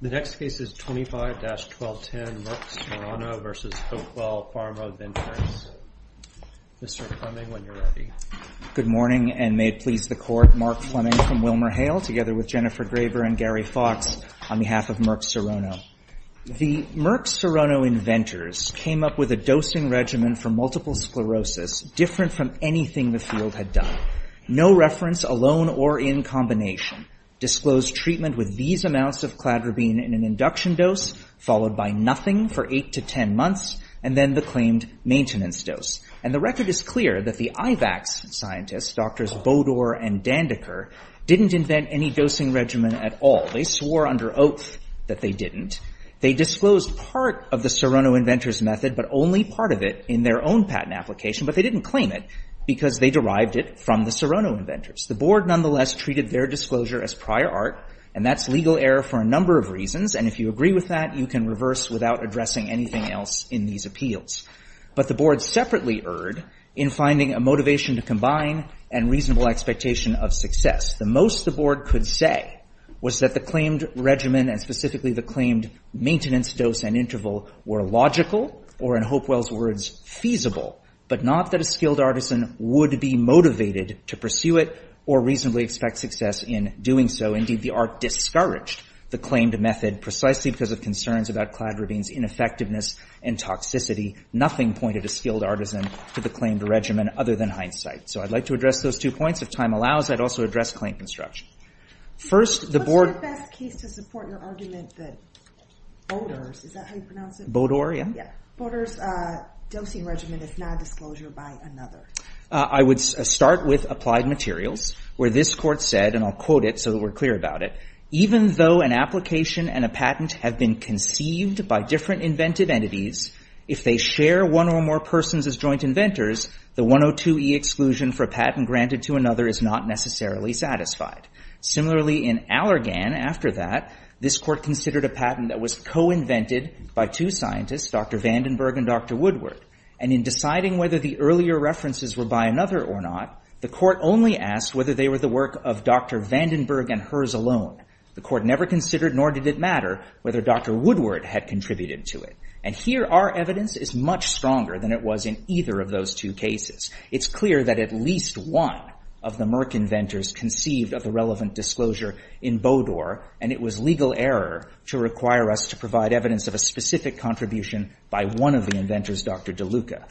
The next case is 25-1210, Merck Serono v. Hopewell Pharma Ventures. Mr. Fleming, when you're ready. Good morning, and may it please the Court, Mark Fleming from WilmerHale, together with Jennifer Graber and Gary Fox on behalf of Merck Serono. The Merck Serono inventors came up with a dosing regimen for multiple sclerosis different from anything the field had done. No reference alone or in combination. Disclosed treatment with these amounts of cladribine in an induction dose, followed by nothing for eight to ten months, and then the claimed maintenance dose. And the record is clear that the IVACS scientists, Drs. Bodor and Dandeker, didn't invent any dosing regimen at all. They swore under oath that they didn't. They disclosed part of the Serono inventors' method, but only part of it, in their own patent application. But they didn't claim it because they derived it from the Serono inventors. The Board, nonetheless, treated their disclosure as prior art, and that's legal error for a number of reasons, and if you agree with that, you can reverse without addressing anything else in these appeals. But the Board separately erred in finding a motivation to combine and reasonable expectation of success. The most the Board could say was that the claimed regimen, and specifically the claimed maintenance dose and interval, were logical, or in Hopewell's words, feasible. But not that a skilled artisan would be motivated to pursue it or reasonably expect success in doing so. Indeed, the ARC discouraged the claimed method precisely because of concerns about cladribine's ineffectiveness and toxicity. Nothing pointed a skilled artisan to the claimed regimen other than hindsight. So I'd like to address those two points. If time allows, I'd also address claim construction. First the Board— I have a case to support your argument that Bodor's—is that how you pronounce it? Bodor, yeah. Yeah. Bodor's dosing regimen is not a disclosure by another. I would start with Applied Materials, where this Court said, and I'll quote it so that we're clear about it, Even though an application and a patent have been conceived by different inventive entities, if they share one or more persons as joint inventors, the 102e exclusion for a patent granted to another is not necessarily satisfied. Similarly, in Allergan, after that, this Court considered a patent that was co-invented by two scientists, Dr. Vandenberg and Dr. Woodward, and in deciding whether the earlier references were by another or not, the Court only asked whether they were the work of Dr. Vandenberg and hers alone. The Court never considered, nor did it matter, whether Dr. Woodward had contributed to it. And here our evidence is much stronger than it was in either of those two cases. It's clear that at least one of the Merck inventors conceived of the relevant disclosure in Bodor, and it was legal error to require us to provide evidence of a specific contribution by one of the inventors, Dr. DeLuca.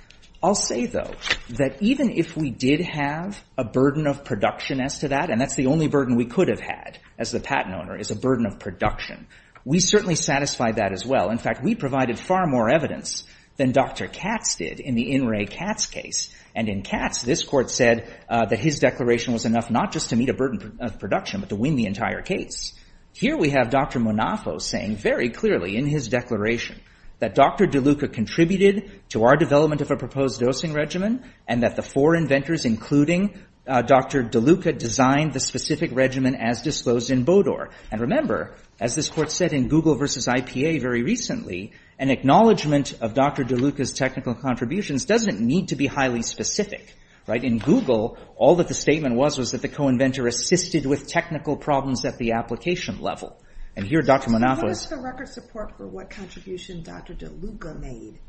I'll say, though, that even if we did have a burden of production as to that, and that's the only burden we could have had as the patent owner, is a burden of production, we certainly satisfied that as well. In fact, we provided far more evidence than Dr. Katz did in the In Re Katz case. And in Katz, this Court said that his declaration was enough not just to meet a burden of production but to win the entire case. Here we have Dr. Monafo saying very clearly in his declaration that Dr. DeLuca contributed to our development of a proposed dosing regimen and that the four inventors, including Dr. DeLuca, designed the specific regimen as disclosed in Bodor. And remember, as this Court said in Google versus IPA very recently, an acknowledgment of Dr. DeLuca's technical contributions doesn't need to be highly specific. In Google, all that the statement was was that the co-inventor assisted with technical problems at the application level. And here Dr. Monafo— Just give us the record support for what contribution Dr. DeLuca made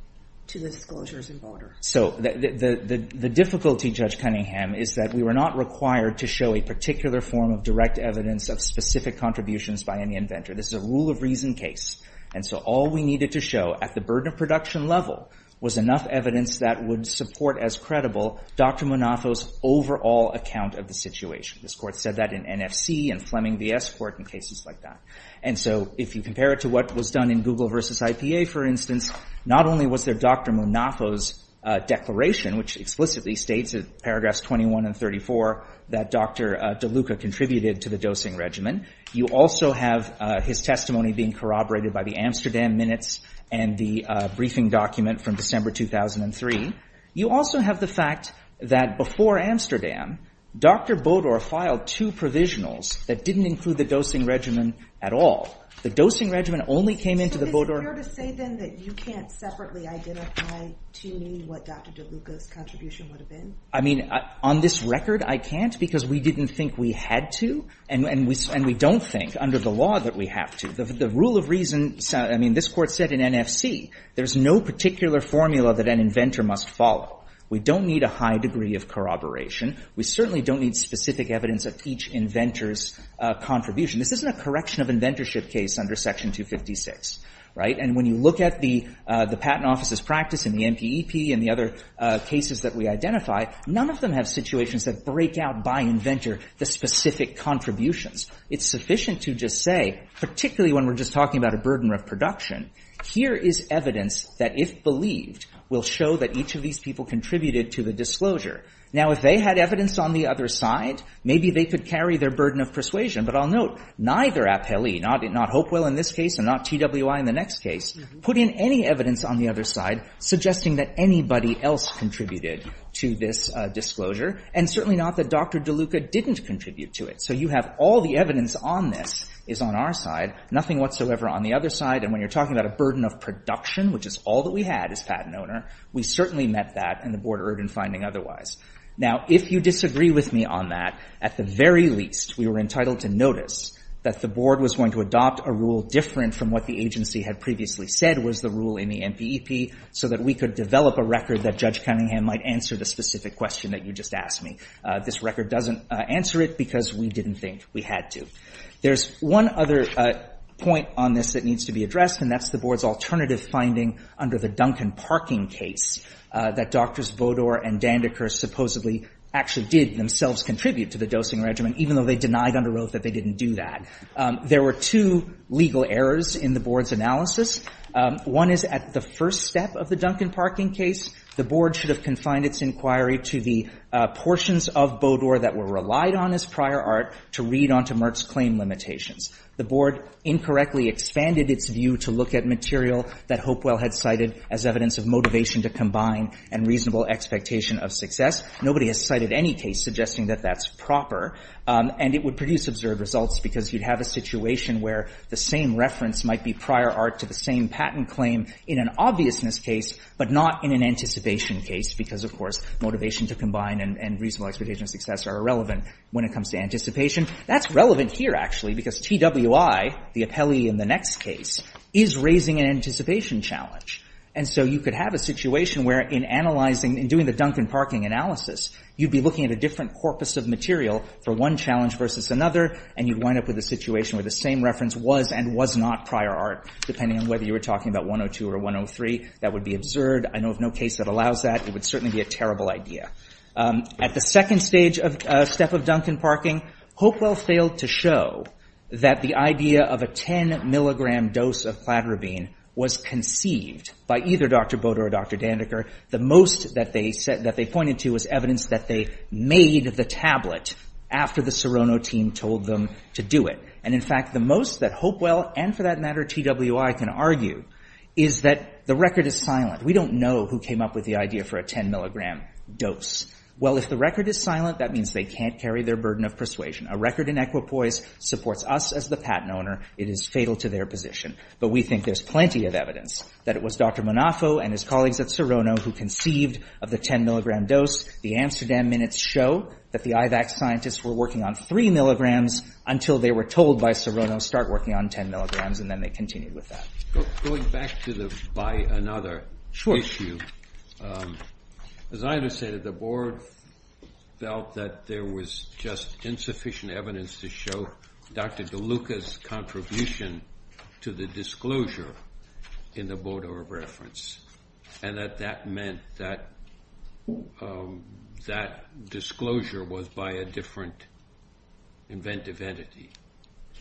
to the disclosures in Bodor. So the difficulty, Judge Cunningham, is that we were not required to show a particular form of direct evidence of specific contributions by any inventor. This is a rule of reason case. And so all we needed to show at the burden of production level was enough evidence that would support as credible Dr. Monafo's overall account of the situation. This Court said that in NFC and Fleming v. S. Court and cases like that. And so if you compare it to what was done in Google versus IPA, for instance, not only was there Dr. Monafo's declaration, which explicitly states in paragraphs 21 and 34 that Dr. DeLuca contributed to the dosing regimen. You also have his testimony being corroborated by the Amsterdam Minutes and the briefing document from December 2003. You also have the fact that before Amsterdam, Dr. Bodor filed two provisionals that didn't include the dosing regimen at all. The dosing regimen only came into the Bodor— So is it fair to say, then, that you can't separately identify to me what Dr. DeLuca's contribution would have been? I mean, on this record, I can't, because we didn't think we had to, and we don't think, under the law, that we have to. The rule of reason—I mean, this Court said in NFC there's no particular formula that an inventor must follow. We don't need a high degree of corroboration. We certainly don't need specific evidence of each inventor's contribution. This isn't a correction of inventorship case under Section 256, right? And when you look at the Patent Office's practice and the MPEP and the other cases that we identify, none of them have situations that break out by inventor the specific contributions. It's sufficient to just say, particularly when we're just talking about a burden of production, here is evidence that, if believed, will show that each of these people contributed to the disclosure. Now, if they had evidence on the other side, maybe they could carry their burden of persuasion. But I'll note, neither appellee—not Hopewell in this case and not TWI in the next case—put in any evidence on the other side suggesting that anybody else contributed to this disclosure, and certainly not that Dr. DeLuca didn't contribute to it. So you have all the evidence on this is on our side, nothing whatsoever on the other side. And when you're talking about a burden of production, which is all that we had as patent owner, we certainly met that, and the Board erred in finding otherwise. Now, if you disagree with me on that, at the very least, we were entitled to notice that the Board was going to adopt a rule different from what the agency had previously said was the rule in the MPEP, so that we could develop a record that Judge Cunningham might answer the specific question that you just asked me. This record doesn't answer it because we didn't think we had to. There's one other point on this that needs to be addressed, and that's the Board's alternative finding under the Duncan Parking case that Drs. Bodor and Dandeker supposedly actually did themselves contribute to the dosing regimen, even though they denied under oath that they didn't do that. There were two legal errors in the Board's analysis. One is at the first step of the Duncan Parking case, the Board should have confined its inquiry to the portions of Bodor that were relied on as prior art to read onto Merck's claim limitations. The Board incorrectly expanded its view to look at material that Hopewell had cited as evidence of motivation to combine and reasonable expectation of success. Nobody has cited any case suggesting that that's proper, and it would produce absurd results because you'd have a situation where the same reference might be prior art to the same patent claim in an obviousness case, but not in an anticipation case because, of course, motivation to combine and reasonable expectation of success are irrelevant when it comes to anticipation. That's relevant here, actually, because TWI, the appellee in the next case, is raising an anticipation challenge. And so you could have a situation where in analyzing, in doing the Duncan Parking analysis, you'd be looking at a different corpus of material for one challenge versus another, and you'd wind up with a situation where the same reference was and was not prior art, depending on whether you were talking about 102 or 103. That would be absurd. I know of no case that allows that. It would certainly be a terrible idea. At the second stage of – step of Duncan Parking, Hopewell failed to show that the idea of a 10-milligram dose of cladribine was conceived by either Dr. Bodor or Dr. Dandeker. The most that they pointed to was evidence that they made the tablet after the Serono team told them to do it. And in fact, the most that Hopewell and, for that matter, TWI can argue is that the record is silent. We don't know who came up with the idea for a 10-milligram dose. Well, if the record is silent, that means they can't carry their burden of persuasion. A record in equipoise supports us as the patent owner. It is fatal to their position. But we think there's plenty of evidence that it was Dr. Monafo and his colleagues at Serono who conceived of the 10-milligram dose. The Amsterdam minutes show that the IVAC scientists were working on three milligrams until they were told by Serono, start working on 10 milligrams, and then they continued with that. Going back to the by another issue, as I understand it, the board felt that there was just insufficient evidence to show Dr. DeLuca's contribution to the disclosure in the Bodo reference, and that that meant that that disclosure was by a different inventive entity.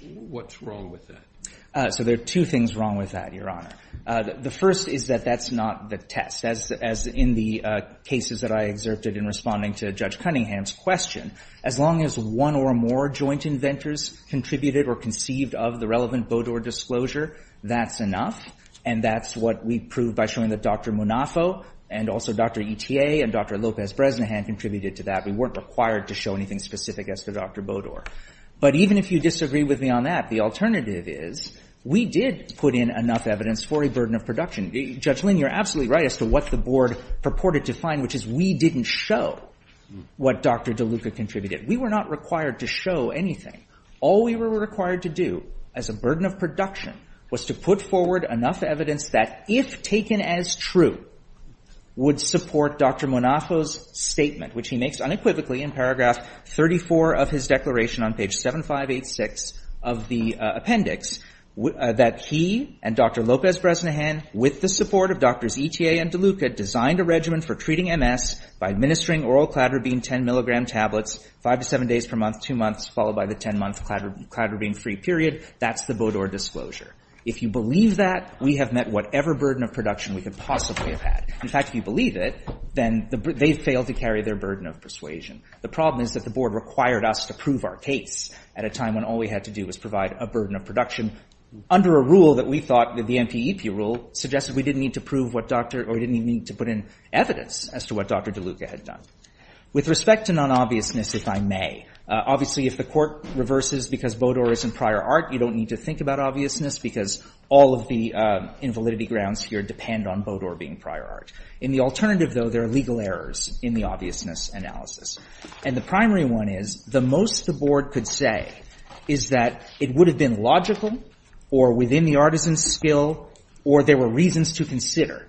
What's wrong with that? So there are two things wrong with that, Your Honor. The first is that that's not the test, as in the cases that I exerted in responding to Judge Cunningham's question. As long as one or more joint inventors contributed or conceived of the relevant Bodo disclosure, that's enough, and that's what we proved by showing that Dr. Monafo and also Dr. ETA and Dr. Lopez-Bresnahan contributed to that. We weren't required to show anything specific as to Dr. Bodo. But even if you disagree with me on that, the alternative is we did put in enough evidence for a burden of production. Judge Lin, you're absolutely right as to what the board purported to find, which is we didn't show what Dr. DeLuca contributed. We were not required to show anything. All we were required to do as a burden of production was to put forward enough evidence that if taken as true, would support Dr. Monafo's statement, which he makes unequivocally in paragraph 34 of his declaration on page 7586 of the appendix, that he and Dr. Lopez-Bresnahan, with the support of Drs. ETA and DeLuca, designed a regimen for treating MS by administering oral cladribine 10-milligram tablets five to seven days per month, two months, followed by the 10-month cladribine-free period. That's the Bodo disclosure. If you believe that, we have met whatever burden of production we could possibly have had. In fact, if you believe it, then they failed to carry their burden of persuasion. The problem is that the board required us to prove our case at a time when all we had to do was provide a burden of production under a rule that we thought, the NPEP rule, suggested we didn't need to prove what Dr. or we didn't even need to put in evidence as to what Dr. DeLuca had done. With respect to non-obviousness, if I may, obviously, if the court reverses because Bodo is in prior art, you don't need to think about obviousness because all of the invalidity grounds here depend on Bodo being prior art. In the alternative, though, there are legal errors in the obviousness analysis. And the primary one is, the most the board could say is that it would have been logical or within the artisan's skill or there were reasons to consider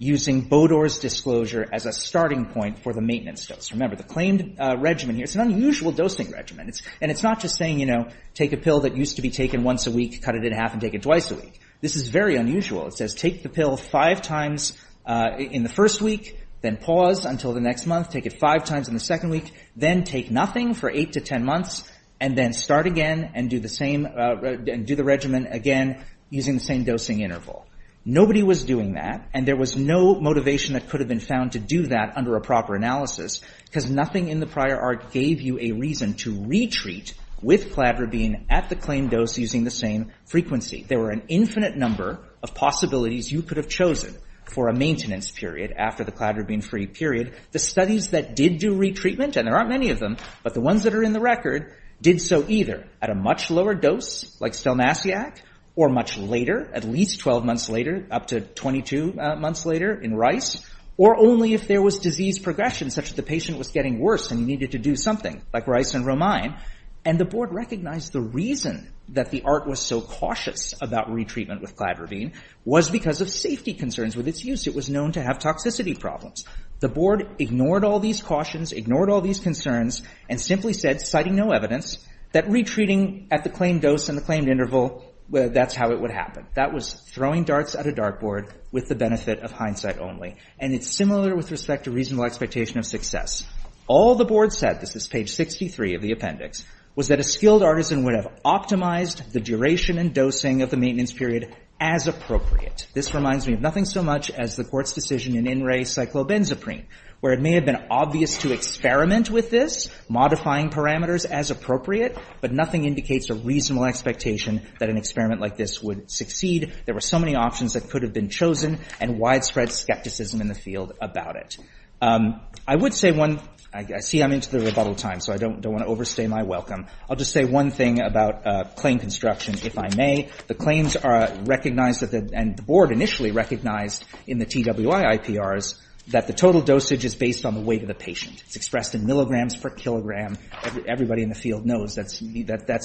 using Bodo's disclosure as a starting point for the maintenance dose. Remember, the claimed regimen here, it's an unusual dosing regimen. And it's not just saying, you know, take a pill that used to be taken once a week, cut it in half and take it twice a week. This is very unusual. It says, take the pill five times in the first week, then pause until the next month. Take it five times in the second week, then take nothing for eight to ten months, and then start again and do the same and do the regimen again using the same dosing interval. Nobody was doing that, and there was no motivation that could have been found to do that under a proper analysis because nothing in the prior art gave you a reason to retreat with cladribine at the claimed dose using the same frequency. There were an infinite number of possibilities you could have chosen for a maintenance period after the cladribine-free period. The studies that did do retreatment, and there aren't many of them, but the ones that are in the record, did so either at a much lower dose, like Stelmassiac, or much later, at least 12 months later, up to 22 months later in Rice, or only if there was disease progression such that the patient was getting worse and he needed to do something, like Rice and Romine. And the board recognized the reason that the art was so cautious about retreatment with cladribine was because of safety concerns with its use. It was known to have toxicity problems. The board ignored all these cautions, ignored all these concerns, and simply said, citing no evidence, that retreating at the claimed dose and the claimed interval, that's how it would happen. That was throwing darts at a dartboard with the benefit of hindsight only. And it's similar with respect to reasonable expectation of success. All the board said, this is page 63 of the appendix, was that a skilled artisan would have optimized the duration and dosing of the maintenance period as appropriate. This reminds me of nothing so much as the court's decision in In Re Cyclobenzaprine, where it may have been obvious to experiment with this, modifying parameters as appropriate, but nothing indicates a reasonable expectation that an experiment like this would succeed. There were so many options that could have been chosen and widespread skepticism in the field about it. I would say one, I see I'm into the rebuttal time, so I don't want to overstay my welcome. I'll just say one thing about claim construction, if I may. The claims are recognized and the board initially recognized in the TWI IPRs that the total dosage is based on the weight of the patient. It's expressed in milligrams per kilogram. Everybody in the field knows that's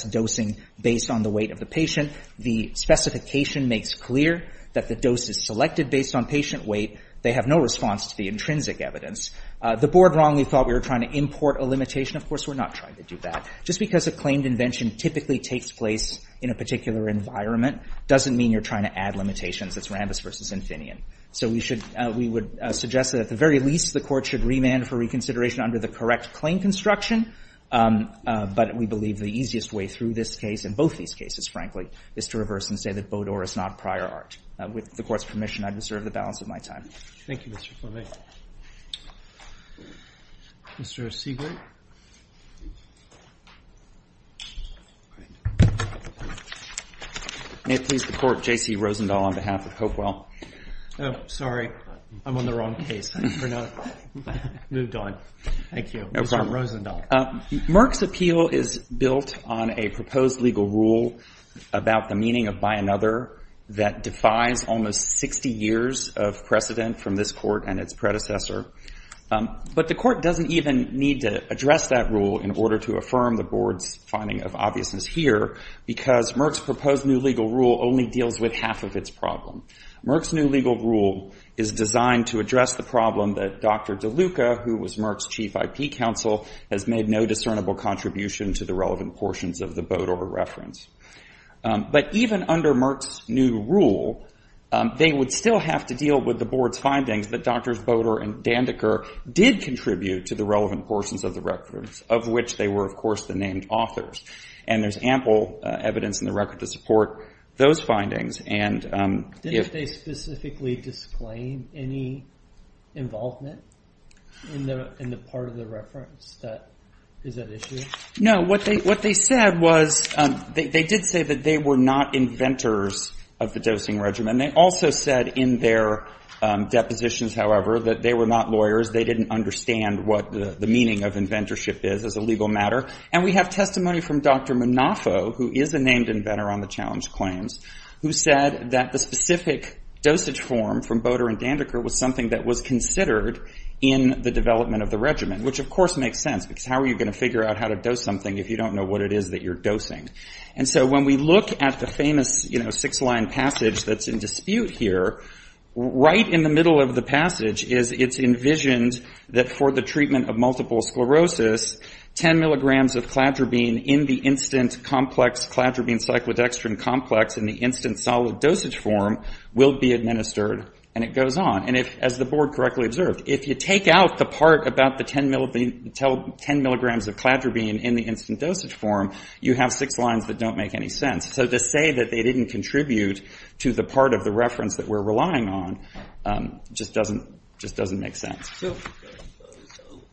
dosing based on the weight of the patient. The specification makes clear that the dose is selected based on patient weight. They have no response to the intrinsic evidence. The board wrongly thought we were trying to import a limitation. Of course, we're not trying to do that. Just because a claimed invention typically takes place in a particular environment doesn't mean you're trying to add limitations. It's Rambis versus Infineon. So we would suggest that at the very least, the court should remand for reconsideration under the correct claim construction. But we believe the easiest way through this case, and both these cases, frankly, is to reverse and say that Baudot is not prior art. With the court's permission, I deserve the balance of my time. Thank you, Mr. Formey. Mr. Siegert? May it please the court, J.C. Rosendahl on behalf of Hopewell. Oh, sorry. I'm on the wrong case. I think we're now moved on. Thank you, Mr. Rosendahl. Merck's appeal is built on a proposed legal rule about the meaning of by another that defies almost 60 years of precedent from this court and its predecessor. But the court doesn't even need to address that rule in order to affirm the board's finding of obviousness here, because Merck's proposed new legal rule only deals with half of its problem. Merck's new legal rule is designed to address the problem that Dr. DeLuca, who was Merck's chief IP counsel, has made no discernible contribution to the relevant portions of the Baudot reference. But even under Merck's new rule, they would still have to deal with the board's findings that Drs. Baudot and Dandeker did contribute to the relevant portions of the reference, of which they were, of course, the named authors. And there's ample evidence in the record to support those findings. And if they specifically disclaim any involvement in the part of the reference that is at issue? No, what they said was, they did say that they were not inventors of the dosing regimen. They also said in their depositions, however, that they were not lawyers. They didn't understand what the meaning of inventorship is as a legal matter. And we have testimony from Dr. Munafo, who is a named inventor on the challenge claims, who said that the specific dosage form from Baudot and Dandeker was something that was considered in the development of the regimen, which, of course, makes sense, because how are you going to figure out how to dose something if you don't know what it is that you're dosing? And so when we look at the famous six-line passage that's in dispute here, right in the middle of the passage is it's envisioned that for the treatment of multiple sclerosis, 10 milligrams of cladribine in the instant complex cladribine cyclodextrin complex in the instant solid dosage form will be administered. And it goes on. And as the board correctly observed, if you take out the part about the 10 milligrams of cladribine in the instant dosage form, you have six lines that don't make any sense. So to say that they didn't contribute to the part of the reference that we're relying on just doesn't make sense. So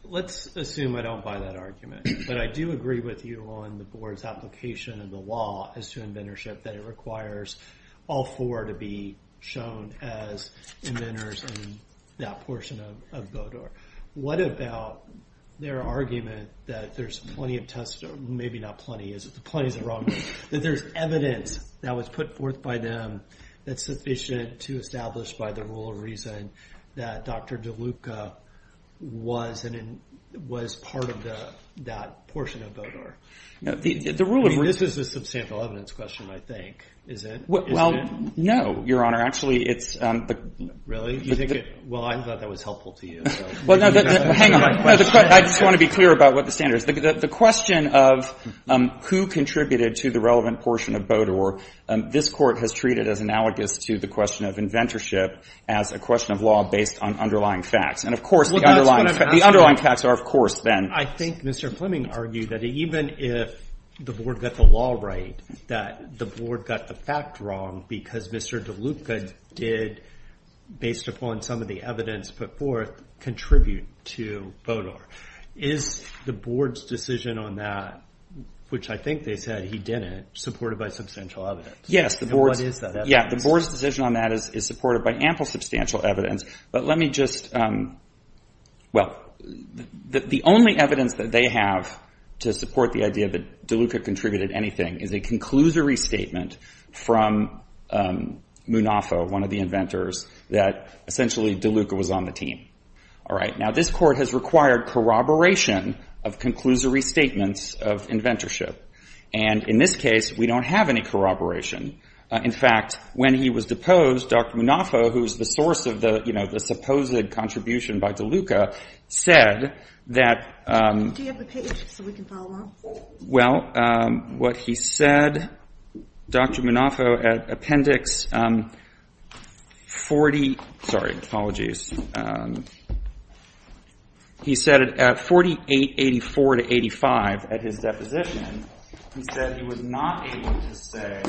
let's assume I don't buy that argument. But I do agree with you on the board's application of the law as to inventorship that it requires all four to be shown as inventors in that portion of Baudot. What about their argument that there's plenty of tests, or maybe not plenty, is it? Plenty is the wrong word. That there's evidence that was put forth by them that's sufficient to establish by the rule of reason that Dr. DeLuca was part of that portion of Baudot. The rule of reason... This is a substantial evidence question, I think, isn't it? Well, no, Your Honor. Actually, it's... Really? You think it... Well, I thought that was helpful to you. Well, hang on. I just want to be clear about what the standard is. The question of who contributed to the relevant portion of Baudot, this Court has treated as analogous to the question of inventorship as a question of law based on underlying facts. And, of course, the underlying facts are, of course, then... I think Mr. Fleming argued that even if the board got the law right, that the board got the fact wrong because Mr. DeLuca did, based upon some of the evidence put forth, contribute to Baudot. Is the board's decision on that, which I think they said he didn't, supported by substantial evidence? Yes. And what is that evidence? Yeah. The board's decision on that is supported by ample substantial evidence. But let me just... Well, the only evidence that they have to support the idea that DeLuca contributed anything is a conclusory statement from Munafo, one of the inventors, that essentially DeLuca was on the team. All right. Now, this Court has required corroboration of conclusory statements of inventorship. And in this case, we don't have any corroboration. In fact, when he was deposed, Dr. Munafo, who is the source of the, you know, the supposed contribution by DeLuca, said that... Do you have the page so we can follow up? Well, what he said, Dr. Munafo, at Appendix 40, sorry, apologies, he said at 4884-85 at his deposition, he said he was not able to say,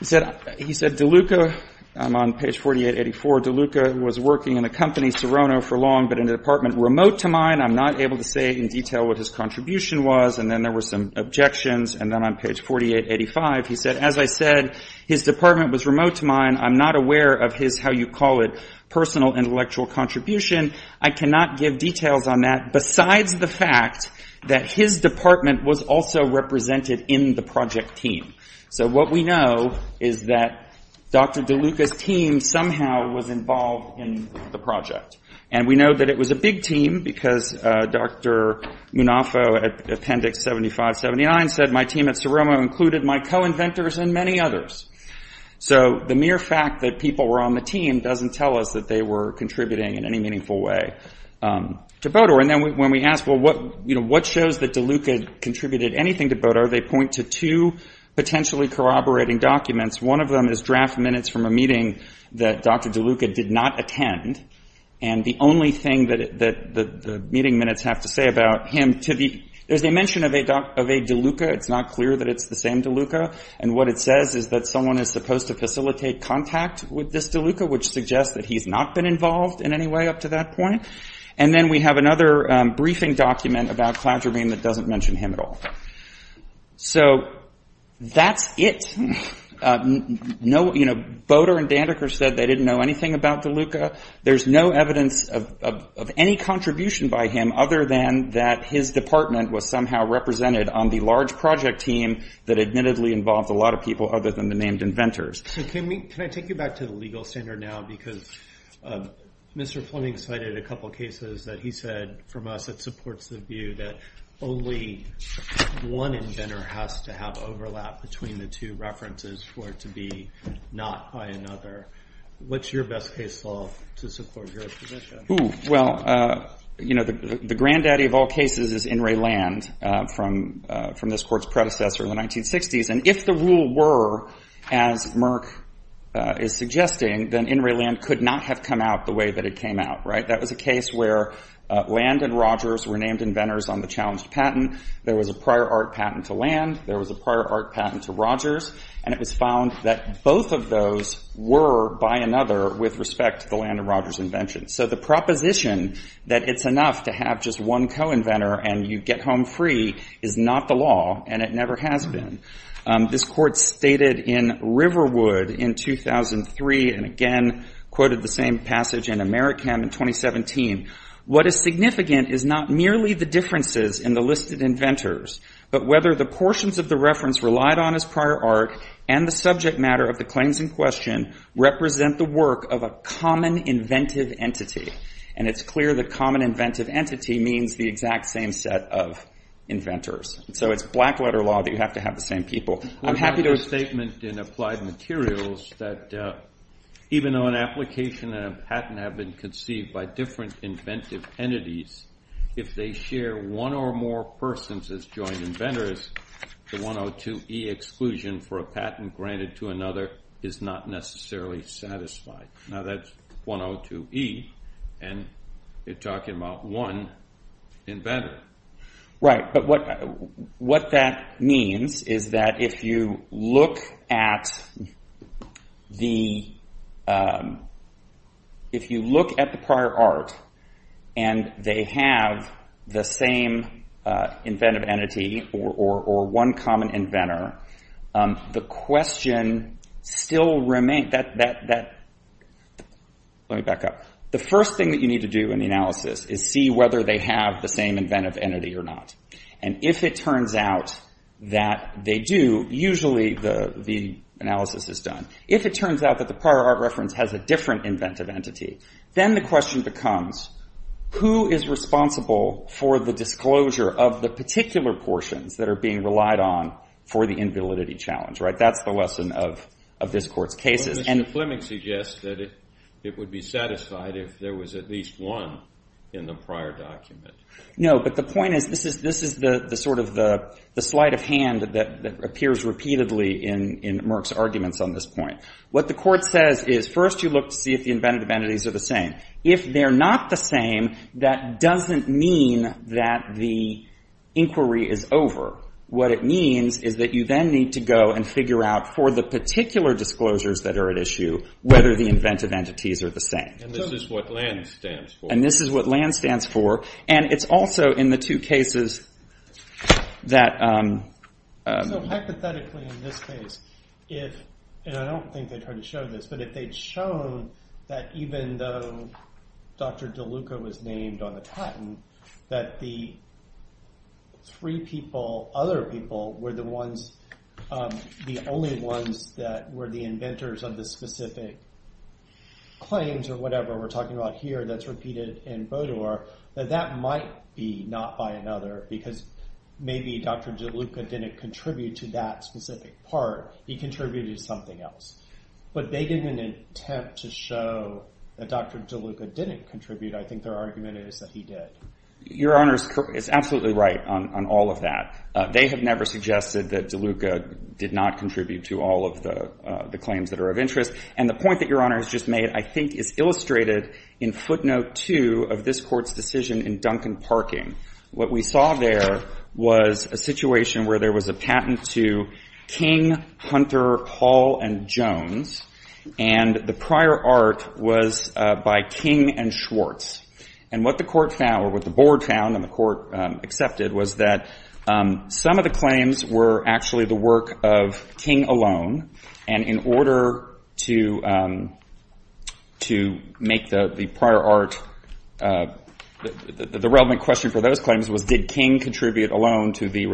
he said DeLuca, I'm on page 4884, DeLuca was working in a company, Serrano, for long, but in a department remote to mine. I'm not able to say in detail what his contribution was. And then there were some objections. And then on page 4885, he said, as I said, his department was remote to mine. I'm not aware of his, how you call it, personal intellectual contribution. I cannot give details on that besides the fact that his department was also represented in the project team. So what we know is that Dr. DeLuca's team somehow was involved in the project. And we know that it was a big team because Dr. Munafo, at Appendix 75-79, said my team at Serrano included my co-inventors and many others. So the mere fact that people were on the team doesn't tell us that they were contributing in any meaningful way to Bodor. And then when we ask, well, what shows that DeLuca contributed anything to Bodor, they point to two potentially corroborating documents. One of them is draft minutes from a meeting that Dr. DeLuca did not attend. And the only thing that the meeting minutes have to say about him to the, there's a mention of a DeLuca. It's not clear that it's the same DeLuca. And what it says is that someone is supposed to facilitate contact with this DeLuca, which suggests that he's not been involved in any way up to that point. And then we have another briefing document about Cladramine that doesn't mention him at all. So, that's it. No, you know, Bodor and Dandeker said they didn't know anything about DeLuca. There's no evidence of any contribution by him other than that his department was somehow represented on the large project team that admittedly involved a lot of people other than the named inventors. So can we, can I take you back to the legal standard now because Mr. Fleming cited a couple cases that he said from us that supports the view that only one inventor has to have overlap between the two references for it to be not by another. What's your best case law to support your position? Well, you know, the granddaddy of all cases is In re Land from this court's predecessor in the 1960s. And if the rule were as Merck is suggesting, then In re Land could not have come out the way that it came out, right? That was a case where Land and Rogers were named inventors on the challenged patent. There was a prior art patent to Land, there was a prior art patent to Rogers, and it was found that both of those were by another with respect to the Land and Rogers invention. So the proposition that it's enough to have just one co-inventor and you get home free is not the law, and it never has been. This court stated in Riverwood in 2003 and again quoted the same passage in Americam in 2017, what is significant is not merely the differences in the listed inventors, but whether the portions of the reference relied on as prior art and the subject matter of the claims in question represent the work of a common inventive entity. And it's clear that common inventive entity means the exact same set of inventors. So it's black letter law that you have to have the same people. I'm happy to... We have a statement in Applied Materials that even though an application and a patent have been conceived by different inventive entities, if they share one or more persons as joint inventors, the 102E exclusion for a patent granted to another is not necessarily satisfied. Now that's 102E, and you're talking about one inventor. Right. But what that means is that if you look at the prior art and they have the same inventive entity or one common inventor, the question still remains... Let me back up. The first thing that you need to do in the analysis is see whether they have the same inventive entity or not. And if it turns out that they do, usually the analysis is done. If it turns out that the prior art reference has a different inventive entity, then the question becomes who is responsible for the disclosure of the particular portions that are being relied on for the invalidity challenge, right? That's the lesson of this Court's cases. Mr. Fleming suggests that it would be satisfied if there was at least one in the prior document. No, but the point is this is the sort of the sleight of hand that appears repeatedly in Merck's arguments on this point. What the Court says is first you look to see if the inventive entities are the same. If they're not the same, that doesn't mean that the inquiry is over. What it means is that you then need to go and figure out for the particular disclosures that are at issue whether the inventive entities are the same. And this is what LANS stands for. And this is what LANS stands for. And it's also in the two cases that... So hypothetically in this case, if, and I don't think they tried to show this, but if they'd shown that even though Dr. DeLuca was named on the patent, that the three people, other people, were the ones, the only ones that were the inventors of the specific claims or whatever we're talking about here that's repeated in Bodor, that that might be not by another because maybe Dr. DeLuca didn't contribute to that specific part. He contributed to something else. But they didn't attempt to show that Dr. DeLuca didn't contribute. I think their argument is that he did. Your Honor is absolutely right on all of that. They have never suggested that DeLuca did not contribute to all of the claims that are of interest. And the point that Your Honor has just made, I think, is illustrated in footnote two of this Court's decision in Duncan Parking. What we saw there was a situation where there was a patent to King, Hunter, Hall, and Jones. And the prior art was by King and Schwartz. And what the Court found, or what the Board found and the Court accepted, was that some of the claims were actually the work of King alone. And in order to make the prior art, the relevant question for those claims was, did King contribute alone to the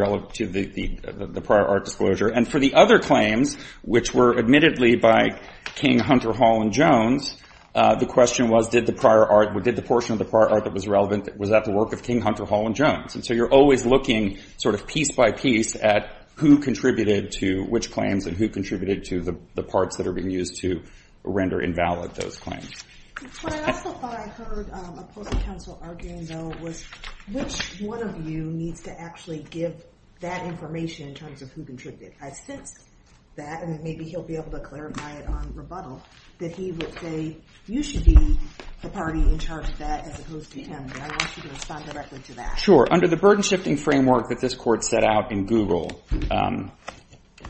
prior art disclosure? And for the other claims, which were admittedly by King, Hunter, Hall, and Jones, the question was, did the portion of the prior art that was relevant, was that the work of King, Hunter, Hall, and Jones? And so you're always looking piece by piece at who contributed to which claims and who contributed to the parts that are being used to render invalid those claims. What I also thought I heard a post-counsel arguing, though, was which one of you needs to actually give that information in terms of who contributed? I sensed that, and maybe he'll be able to clarify it on rebuttal, that he would say, you should be the party in charge of that as opposed to him. And I want you to respond directly to that. Sure. Under the burden-shifting framework that this Court set out in Google,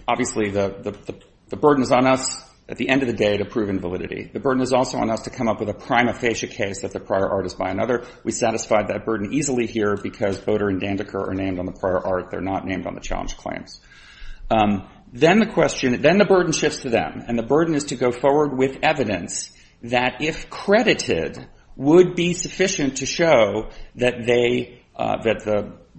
obviously, the burden is on us, at the end of the day, to prove invalidity. The burden is also on us to come up with a prima facie case that the prior art is by another. We satisfied that burden easily here because Boter and Dandeker are named on the prior art. They're not named on the challenge claims. Then the question, then the burden shifts to them. And the burden is to go forward with evidence that, if credited, would be sufficient to show that they, that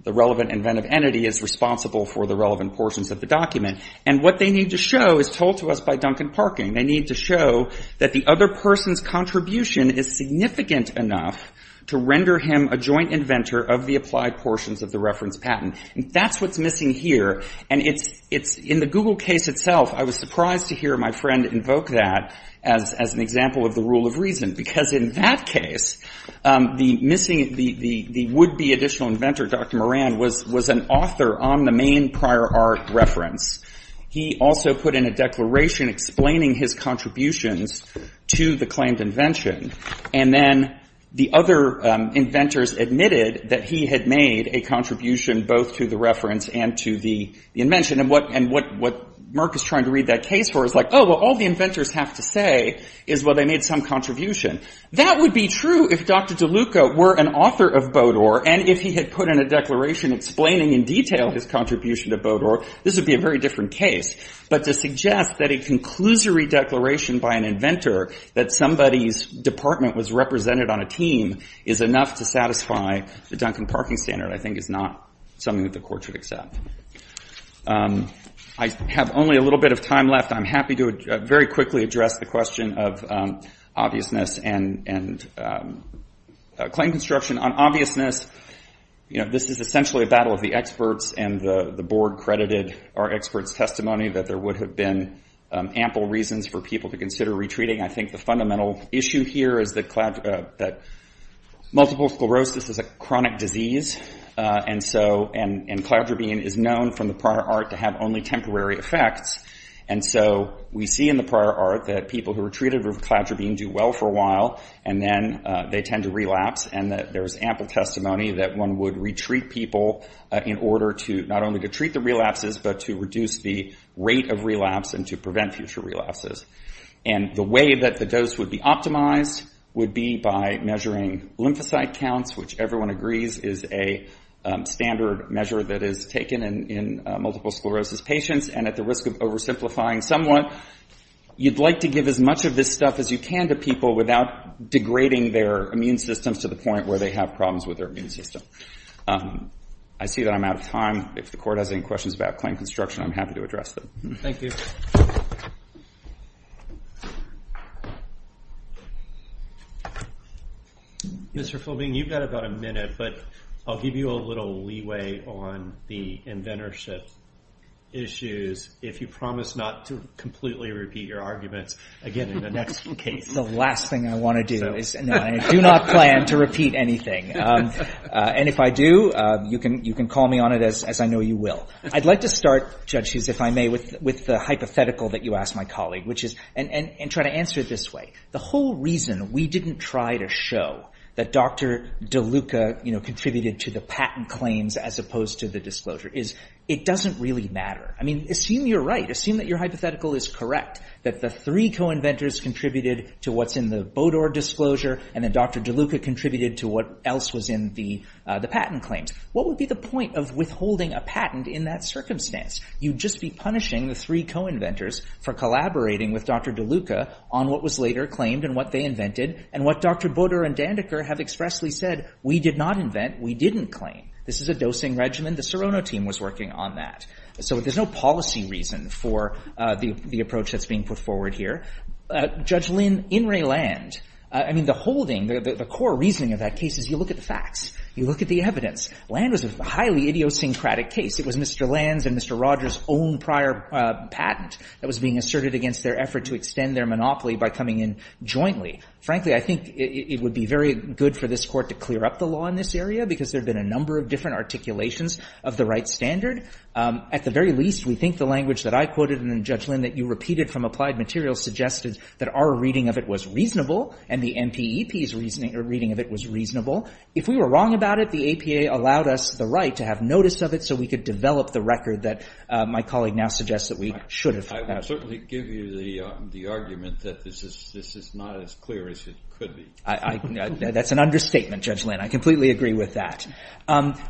the relevant inventive entity is responsible for the relevant portions of the document. And what they need to show is told to us by Duncan Parkin. They need to show that the other person's contribution is significant enough to render him a joint inventor of the applied portions of the reference patent. And that's what's missing here. And it's, it's, in the Google case itself, I was surprised to hear my friend invoke that as, as an example of the rule of reason. Because in that case the missing, the, the, the would-be additional inventor, Dr. Moran, was, was an author on the main prior art reference. He also put in a declaration explaining his contributions to the claimed invention. And then the other inventors admitted that he had made a contribution both to the reference and to the, the invention. And what, and what, what Mark is trying to read that case for is like, oh, well, all the inventors have to say is, well, they made some contribution. That would be true if Dr. DeLuca were an author of Bodor. And if he had put in a declaration explaining in detail his contribution to Bodor, this would be a very different case. But to suggest that a conclusory declaration by an inventor that somebody's department was represented on a team is enough to satisfy the Duncan Parkin standard, I think is not something that the court should accept. I have only a little bit of time left. I'm happy to very quickly address the question of obviousness and, and claim construction on obviousness. You know, this is essentially a battle of the experts, and the, the board credited our experts' testimony that there would have been ample reasons for people to consider retreating. I think the fundamental issue here is the, that multiple sclerosis is a chronic disease. And so, and, and cladrobine is known from the prior art to have only temporary effects. And so, we see in the prior art that people who were treated with cladrobine do well for a while, and then they tend to relapse. And that there's ample testimony that one would retreat people in order to, not only to treat the relapses, but to reduce the rate of relapse and to prevent future relapses. And the way that the dose would be optimized would be by measuring lymphocyte counts, which everyone agrees is a standard measure that is taken in, in multiple sclerosis patients. And at the risk of oversimplifying somewhat, you'd like to give as much of this stuff as you can to people without degrading their immune systems to the point where they have problems with their immune system. I see that I'm out of time. If the court has any questions about claim construction, I'm happy to address them. Thank you. Mr. Philbing, you've got about a minute, but I'll give you a little leeway on the inventorship issues if you promise not to completely repeat your arguments again in the next case. The last thing I want to do is, no, I do not plan to repeat anything. And if I do, you can, you can call me on it as, as I know you will. I'd like to start, Judge Hughes, if I may, with, with the hypothetical that you asked my colleague, which is, and, and, and try to answer it this way. The whole reason we didn't try to show that Dr. DeLuca, you know, contributed to the patent claims as opposed to the disclosure is, it doesn't really matter. I mean, assume you're right. Assume that your hypothetical is correct, that the three co-inventors contributed to what's in the Bodor disclosure, and then Dr. DeLuca contributed to what else was in the, the patent claims. What would be the point of withholding a patent in that circumstance? You'd just be punishing the three co-inventors for collaborating with Dr. DeLuca on what was later claimed and what they invented, and what Dr. Bodor and Dandeker have expressly said, we did not invent, we didn't claim. This is a dosing regimen. The Serrano team was working on that. So there's no policy reason for the, the approach that's being put forward here. Judge Lin, in Ray Land, I mean, the holding, the, the, the core reasoning of that case is you look at the facts, you look at the evidence. Land was a highly idiosyncratic case. It was Mr. Land's and Mr. Rogers' own prior patent that was being asserted against their effort to extend their monopoly by coming in jointly. Frankly, I think it, it would be very good for this Court to clear up the law in this area because there have been a number of different articulations of the right standard. At the very least, we think the language that I quoted and then Judge Lin that you repeated from applied materials suggested that our reading of it was reasonable and the MPEP's reasoning, or reading of it was reasonable. If we were wrong about it, the APA allowed us the right to have notice of it so we could develop the record that my colleague now suggests that we should have. I would certainly give you the, the argument that this is, this is not as clear as it could be. I, I, that's an understatement, Judge Lin. I completely agree with that.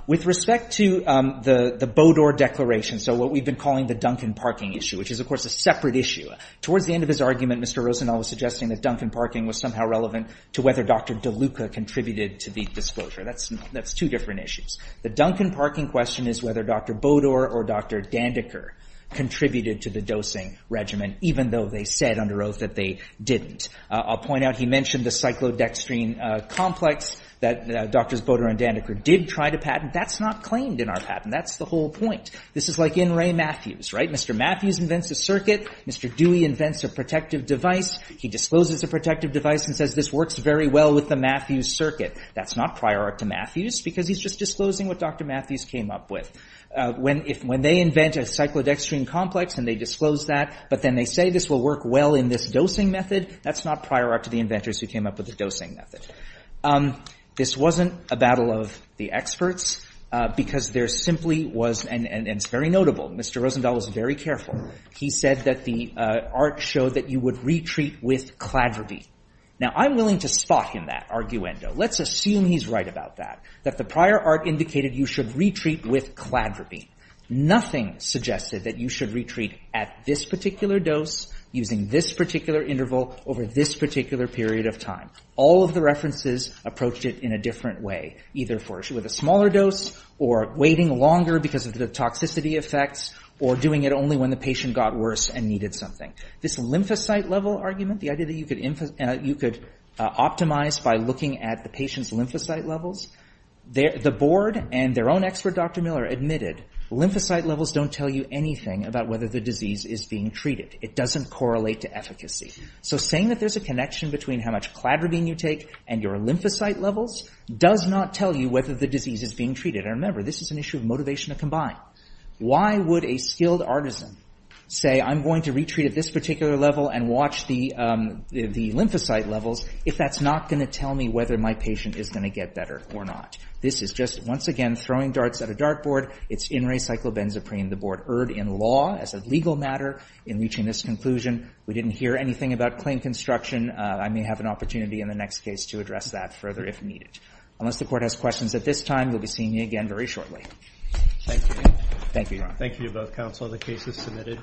With respect to the, the Bodor Declaration, so what we've been calling the Duncan Parking issue, which is, of course, a separate issue, towards the end of his argument, Mr. Rosenau was suggesting that Duncan Parking was somehow relevant to whether Dr. DeLuca contributed to the disclosure. That's, that's two different issues. The Duncan Parking question is whether Dr. Bodor or Dr. Dandeker contributed to the dosing regimen even though they said under oath that they didn't. I'll point out he mentioned the cyclodextrin complex that Drs. Bodor and Dandeker did try to patent. That's not claimed in our patent. That's the whole point. This is like in Ray Matthews, right? Mr. Matthews invents a circuit. Mr. Dewey invents a protective device. He discloses a protective device and says this works very well with the Matthews circuit. That's not prior art to Matthews because he's just disclosing what Dr. Matthews came up with. When, if, when they invent a cyclodextrin complex and they disclose that, but then they say this will work well in this dosing method, that's not prior art to the inventors who came up with the dosing method. This wasn't a battle of the experts because there simply was, and, and it's very notable, Mr. Rosenau was very careful. He said that the art showed that you would retreat with cladriby. Now I'm willing to spot him in that arguendo. Let's assume he's right about that, that the prior art indicated you should retreat with cladriby. Nothing suggested that you should retreat at this particular dose using this particular interval over this particular period of time. All of the references approached it in a different way, either for, with a smaller dose or waiting longer because of the toxicity effects or doing it only when the patient got worse and needed something. This lymphocyte level argument, the idea that you could optimize by looking at the patient's lymphocyte levels, the board and their own expert, Dr. Miller, admitted lymphocyte levels don't tell you anything about whether the disease is being treated. It doesn't correlate to efficacy. So saying that there's a connection between how much cladribine you take and your lymphocyte levels does not tell you whether the disease is being treated. And remember, this is an issue of motivation to combine. Why would a skilled artisan say, I'm going to retreat at this particular level and watch the lymphocyte levels if that's not going to tell me whether my patient is going to get better or not? This is just, once again, throwing darts at a dartboard. It's in recyclobenzaprine. The board erred in law as a legal matter in reaching this conclusion. We didn't hear anything about claim construction. I may have an opportunity in the next case to address that further if needed. Unless the court has questions at this time, you'll be seeing me again very shortly. Thank you. Thank you, Your Honor. Thank you to both counsel. The case is submitted.